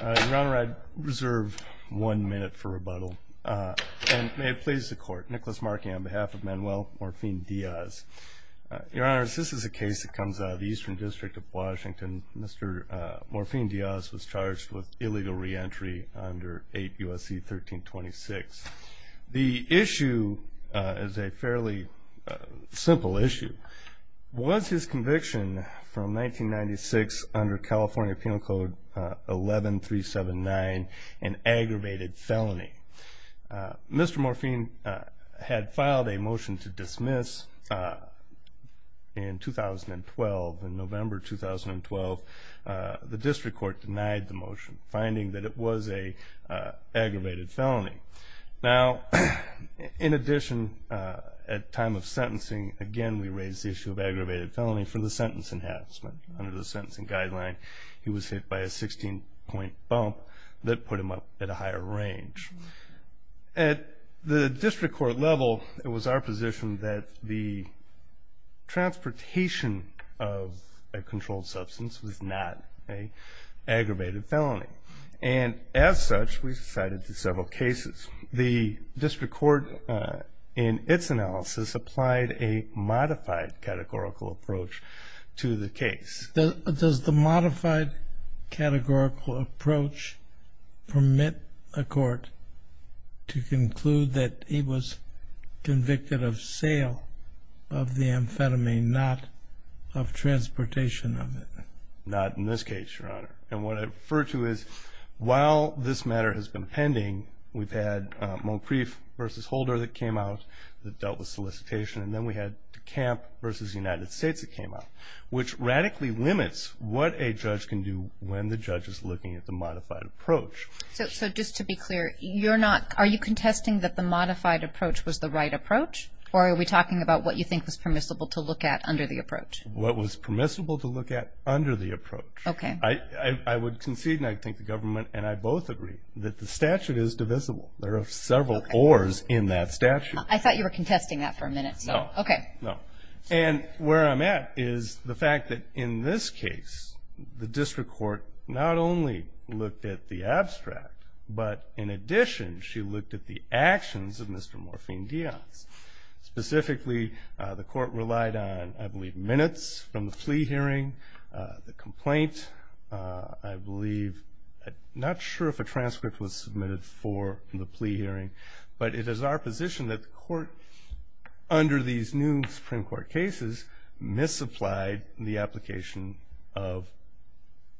Your Honor, I reserve one minute for rebuttal. And may it please the Court, Nicholas Markey on behalf of Manuel Morfin-Diaz. Your Honor, this is a case that comes out of the Eastern District of Washington. Mr. Morfin-Diaz was charged with illegal reentry under 8 U.S.C. 1326. The issue is a fairly simple issue. Was his conviction from 1996 under California Penal Code 11379 an aggravated felony? Mr. Morfin had filed a motion to dismiss in 2012, in November 2012. The District Court denied the motion, finding that it was an aggravated felony. Now, in addition, at time of sentencing, again we raise the issue of aggravated felony for the sentence enhancement. Under the sentencing guideline, he was hit by a 16-point bump that put him up at a higher range. At the District Court level, it was our position that the transportation of a controlled substance was not an aggravated felony. And as such, we cited several cases. The District Court, in its analysis, applied a modified categorical approach to the case. Does the modified categorical approach permit a court to conclude that he was convicted of sale of the amphetamine, not of transportation of it? Not in this case, Your Honor. And what I refer to is, while this matter has been pending, we've had Moncrief v. Holder that came out that dealt with solicitation. And then we had DeCamp v. United States that came out, which radically limits what a judge can do when the judge is looking at the modified approach. So just to be clear, you're not – are you contesting that the modified approach was the right approach? Or are we talking about what you think was permissible to look at under the approach? What was permissible to look at under the approach. Okay. I would concede, and I think the government and I both agree, that the statute is divisible. There are several ors in that statute. I thought you were contesting that for a minute. No. Okay. No. And where I'm at is the fact that in this case, the District Court not only looked at the abstract, but in addition, she looked at the actions of Mr. Morphine-Dions. Specifically, the court relied on, I believe, minutes from the plea hearing, the complaint. I believe – not sure if a transcript was submitted for the plea hearing, but it is our position that the court, under these new Supreme Court cases, misapplied the application of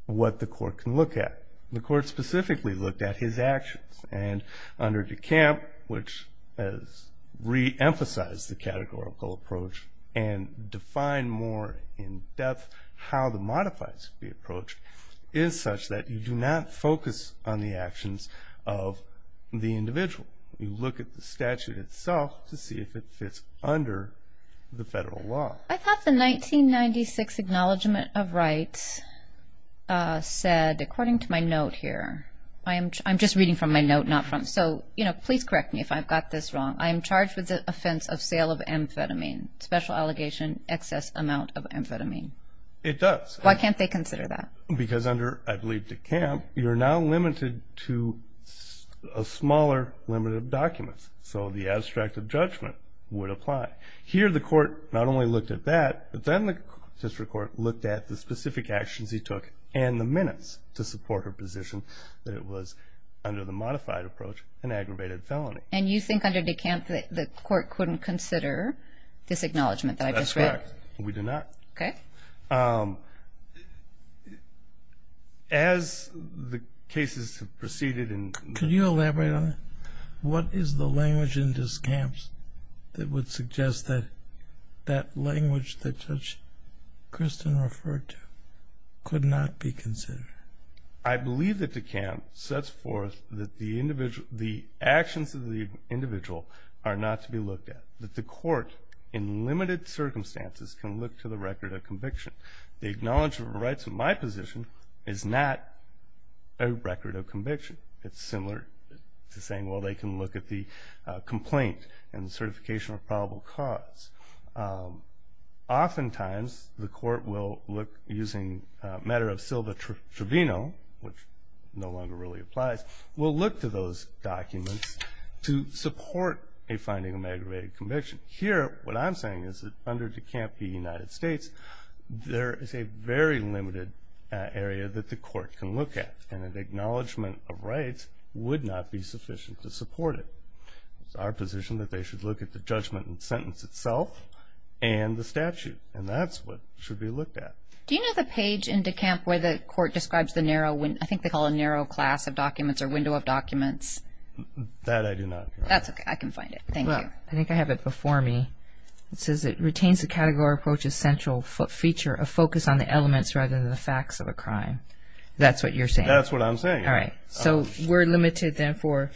what the court can look at. The court specifically looked at his actions. And under DeCamp, which has re-emphasized the categorical approach and defined more in depth how the modifies the approach, is such that you do not focus on the actions of the individual. You look at the statute itself to see if it fits under the federal law. I thought the 1996 Acknowledgement of Rights said, according to my note here – I'm just reading from my note, not from – so, you know, please correct me if I've got this wrong. I am charged with the offense of sale of amphetamine. Special allegation, excess amount of amphetamine. It does. Why can't they consider that? Because under, I believe, DeCamp, you're now limited to a smaller limit of documents. So the abstract of judgment would apply. Here, the court not only looked at that, but then the district court looked at the specific actions he took and the minutes to support her position that it was, under the modified approach, an aggravated felony. And you think under DeCamp, the court couldn't consider this acknowledgement that I just read? That's correct. We do not. Okay. As the cases have proceeded in – Could you elaborate on it? What is the language in DeCamp that would suggest that that language that Judge Kristen referred to could not be considered? I believe that DeCamp sets forth that the actions of the individual are not to be looked at. That the court, in limited circumstances, can look to the record of conviction. The Acknowledgement of Rights of my position is not a record of conviction. It's similar to saying, well, they can look at the complaint and certification of probable cause. Oftentimes, the court will look, using a matter of Silva-Trevino, which no longer really applies, will look to those documents to support a finding of aggravated conviction. Here, what I'm saying is that under DeCamp v. United States, there is a very limited area that the court can look at, and an Acknowledgement of Rights would not be sufficient to support it. It's our position that they should look at the judgment and sentence itself and the statute, and that's what should be looked at. Do you know the page in DeCamp where the court describes the narrow – I think they call it a narrow class of documents or window of documents? That I do not. That's okay. I can find it. Thank you. I think I have it before me. It says it retains the category approach essential feature of focus on the elements rather than the facts of a crime. That's what you're saying? That's what I'm saying. All right. So we're limited then for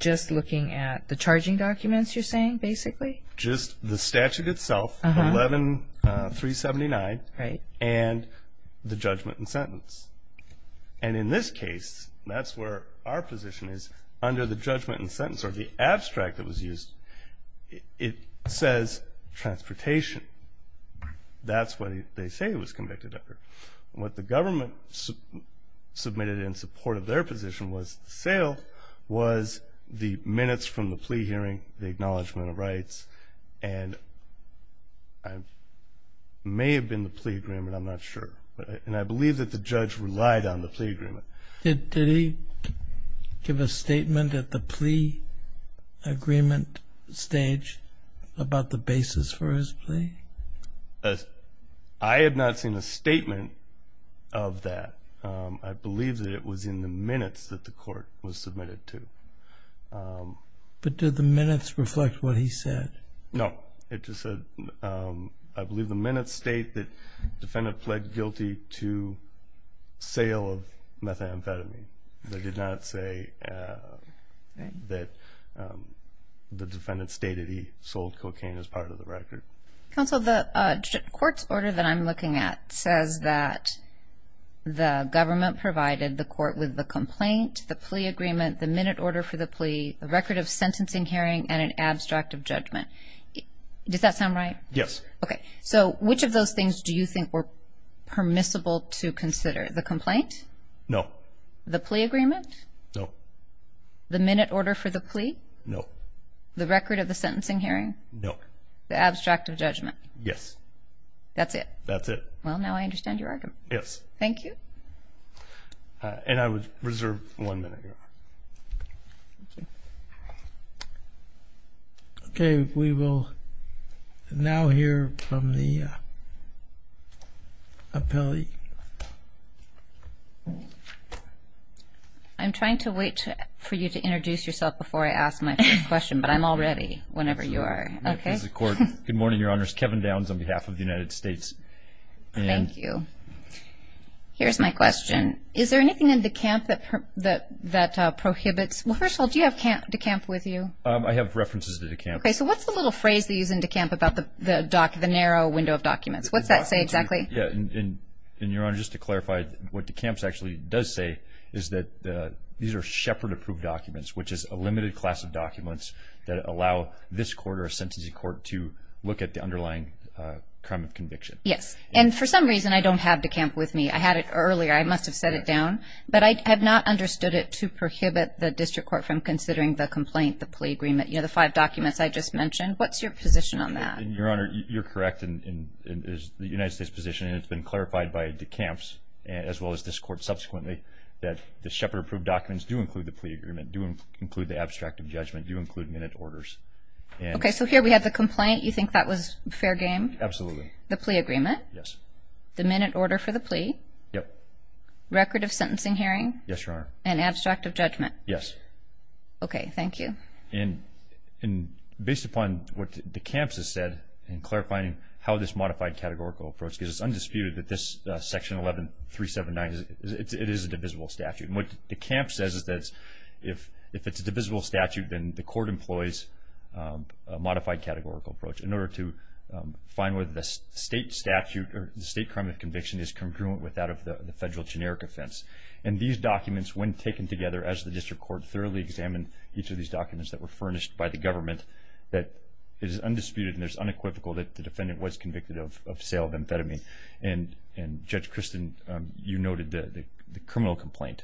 just looking at the charging documents, you're saying, basically? Just the statute itself, 11-379, and the judgment and sentence. And in this case, that's where our position is. Under the judgment and sentence, or the abstract that was used, it says transportation. That's what they say it was convicted under. What the government submitted in support of their position was the sale, was the minutes from the plea hearing, the Acknowledgement of Rights, and it may have been the plea agreement. I'm not sure. And I believe that the judge relied on the plea agreement. Did he give a statement at the plea agreement stage about the basis for his plea? I have not seen a statement of that. I believe that it was in the minutes that the court was submitted to. But did the minutes reflect what he said? No. It just said, I believe, the minutes state that the defendant pled guilty to sale of methamphetamine. They did not say that the defendant stated he sold cocaine as part of the record. Counsel, the court's order that I'm looking at says that the government provided the court with the complaint, the plea agreement, the minute order for the plea, the record of sentencing hearing, and an abstract of judgment. Does that sound right? Yes. Okay. So which of those things do you think were permissible to consider? The complaint? No. The plea agreement? No. The minute order for the plea? No. The record of the sentencing hearing? No. The abstract of judgment? Yes. That's it? That's it. Well, now I understand your argument. Yes. Thank you. And I would reserve one minute. Okay. We will now hear from the appellee. I'm trying to wait for you to introduce yourself before I ask my first question, but I'm all ready whenever you are. Okay. Good morning, Your Honors. Kevin Downs on behalf of the United States. Thank you. Here's my question. Is there anything in DeCamp that prohibits – well, first of all, do you have DeCamp with you? I have references to DeCamp. Okay. So what's the little phrase they use in DeCamp about the narrow window of documents? What's that say exactly? Yeah. And, Your Honor, just to clarify, what DeCamp actually does say is that these are shepherd-approved documents, which is a limited class of documents that allow this court or a sentencing court to look at the underlying crime of conviction. Yes. And for some reason, I don't have DeCamp with me. I had it earlier. I must have set it down. But I have not understood it to prohibit the district court from considering the complaint, the plea agreement, you know, the five documents I just mentioned. What's your position on that? Your Honor, you're correct in the United States position, and it's been clarified by DeCamps, as well as this court subsequently, that the shepherd-approved documents do include the plea agreement, do include the abstract of judgment, do include minute orders. Okay. So here we have the complaint. You think that was fair game? Absolutely. The plea agreement. Yes. The minute order for the plea. Yep. Record of sentencing hearing. Yes, Your Honor. And abstract of judgment. Yes. Okay. Thank you. And based upon what DeCamps has said in clarifying how this modified categorical approach, because it's undisputed that this Section 11379, it is a divisible statute. And what DeCamps says is that if it's a divisible statute, then the court employs a modified categorical approach in order to find whether the state statute or the state crime of conviction is congruent with that of the federal generic offense. And these documents, when taken together, as the district court thoroughly examined each of these documents that were furnished by the government, that it is undisputed and it is unequivocal that the defendant was convicted of sale of amphetamine. And, Judge Christin, you noted the criminal complaint.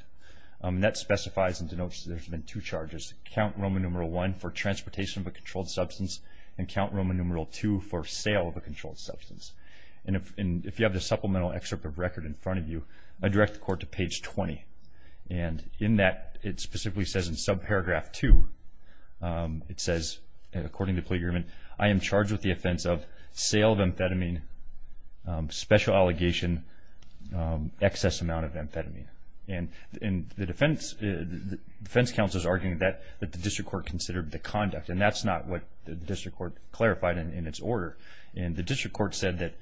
And that specifies and denotes that there's been two charges. Count Roman numeral 1 for transportation of a controlled substance and Count Roman numeral 2 for sale of a controlled substance. And if you have the supplemental excerpt of record in front of you, I direct the court to page 20. And in that, it specifically says in subparagraph 2, it says, according to the plea agreement, I am charged with the offense of sale of amphetamine, special allegation, excess amount of amphetamine. And the defense counsel is arguing that the district court considered the conduct. And that's not what the district court clarified in its order. And the district court said that,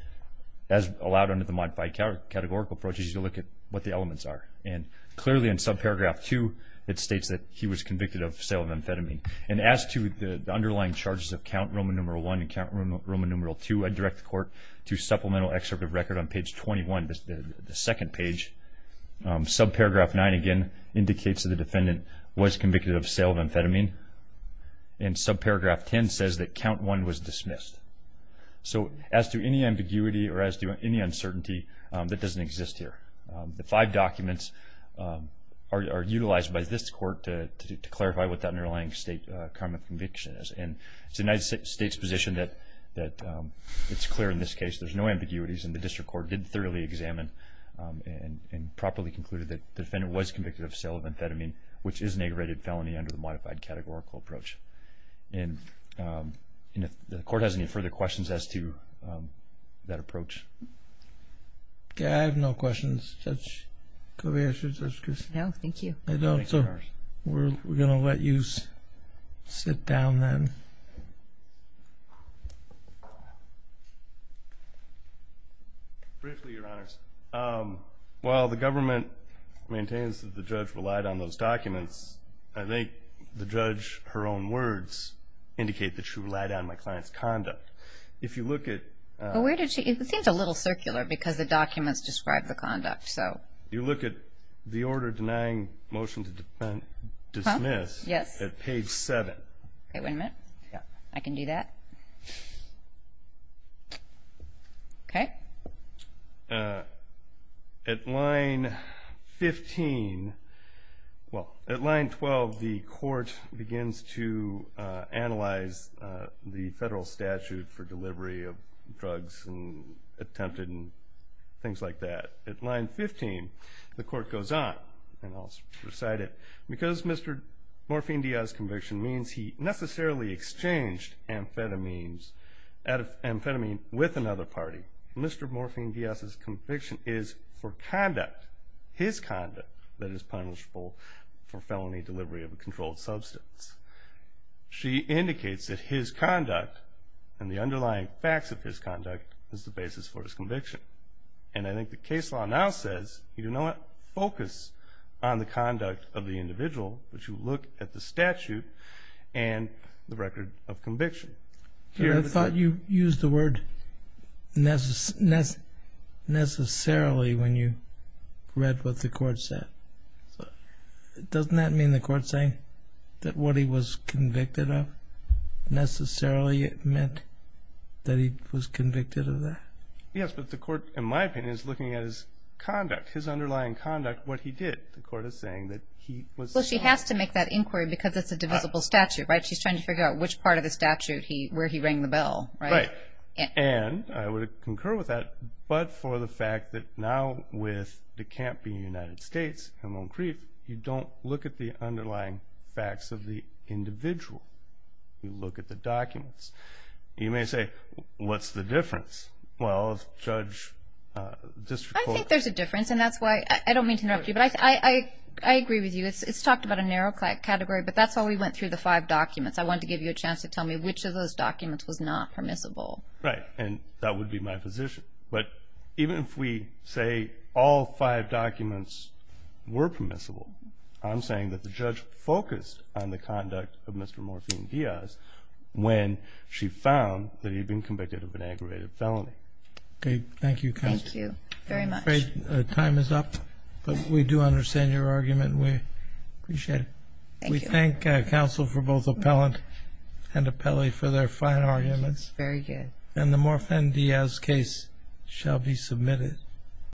as allowed under the modified categorical approach, you should look at what the elements are. And clearly in subparagraph 2, it states that he was convicted of sale of amphetamine. And as to the underlying charges of Count Roman numeral 1 and Count Roman numeral 2, I direct the court to supplemental excerpt of record on page 21, the second page. Subparagraph 9, again, indicates that the defendant was convicted of sale of amphetamine. And subparagraph 10 says that Count 1 was dismissed. So as to any ambiguity or as to any uncertainty, that doesn't exist here. The five documents are utilized by this court to clarify what the underlying state crime of conviction is. And it's the United States' position that it's clear in this case. There's no ambiguities. And the district court did thoroughly examine and properly concluded that the defendant was convicted of sale of amphetamine, which is an aggravated felony under the modified categorical approach. And if the court has any further questions as to that approach. Okay, I have no questions. Judge Covey, I should, Judge Christin. No, thank you. We're going to let you sit down then. Briefly, Your Honors. While the government maintains that the judge relied on those documents, I think the judge, her own words indicate that she relied on my client's conduct. If you look at. It seems a little circular because the documents describe the conduct. You look at the order denying motion to dismiss at page 7. Okay, wait a minute. I can do that. Okay. At line 15, well, at line 12, the court begins to analyze the federal statute for delivery of drugs and attempted and things like that. At line 15, the court goes on, and I'll recite it. Because Mr. Morphine Diaz's conviction means he necessarily exchanged amphetamines, amphetamine with another party, Mr. Morphine Diaz's conviction is for conduct, his conduct that is punishable for felony delivery of a controlled substance. She indicates that his conduct and the underlying facts of his conduct is the basis for his conviction. And I think the case law now says, you know what, focus on the conduct of the individual, but you look at the statute and the record of conviction. I thought you used the word necessarily when you read what the court said. Doesn't that mean the court's saying that what he was convicted of necessarily meant that he was convicted of that? Yes, but the court, in my opinion, is looking at his conduct, his underlying conduct, what he did. The court is saying that he was convicted. Well, she has to make that inquiry because it's a divisible statute, right? She's trying to figure out which part of the statute where he rang the bell, right? Right. And I would concur with that, but for the fact that now with DeCamp being in the United States and Lone Creek, you don't look at the underlying facts of the individual. You look at the documents. You may say, what's the difference? Well, if Judge District Court- I think there's a difference, and that's why I don't mean to interrupt you, but I agree with you. It's talked about a narrow category, but that's why we went through the five documents. I wanted to give you a chance to tell me which of those documents was not permissible. Right, and that would be my position. But even if we say all five documents were permissible, I'm saying that the judge focused on the conduct of Mr. Morphine Diaz when she found that he had been convicted of an aggravated felony. Okay, thank you, Counsel. Thank you very much. I'm afraid time is up, but we do understand your argument, and we appreciate it. Thank you. We thank counsel for both appellant and appellee for their fine arguments. Very good. And the Morphine Diaz case shall be submitted.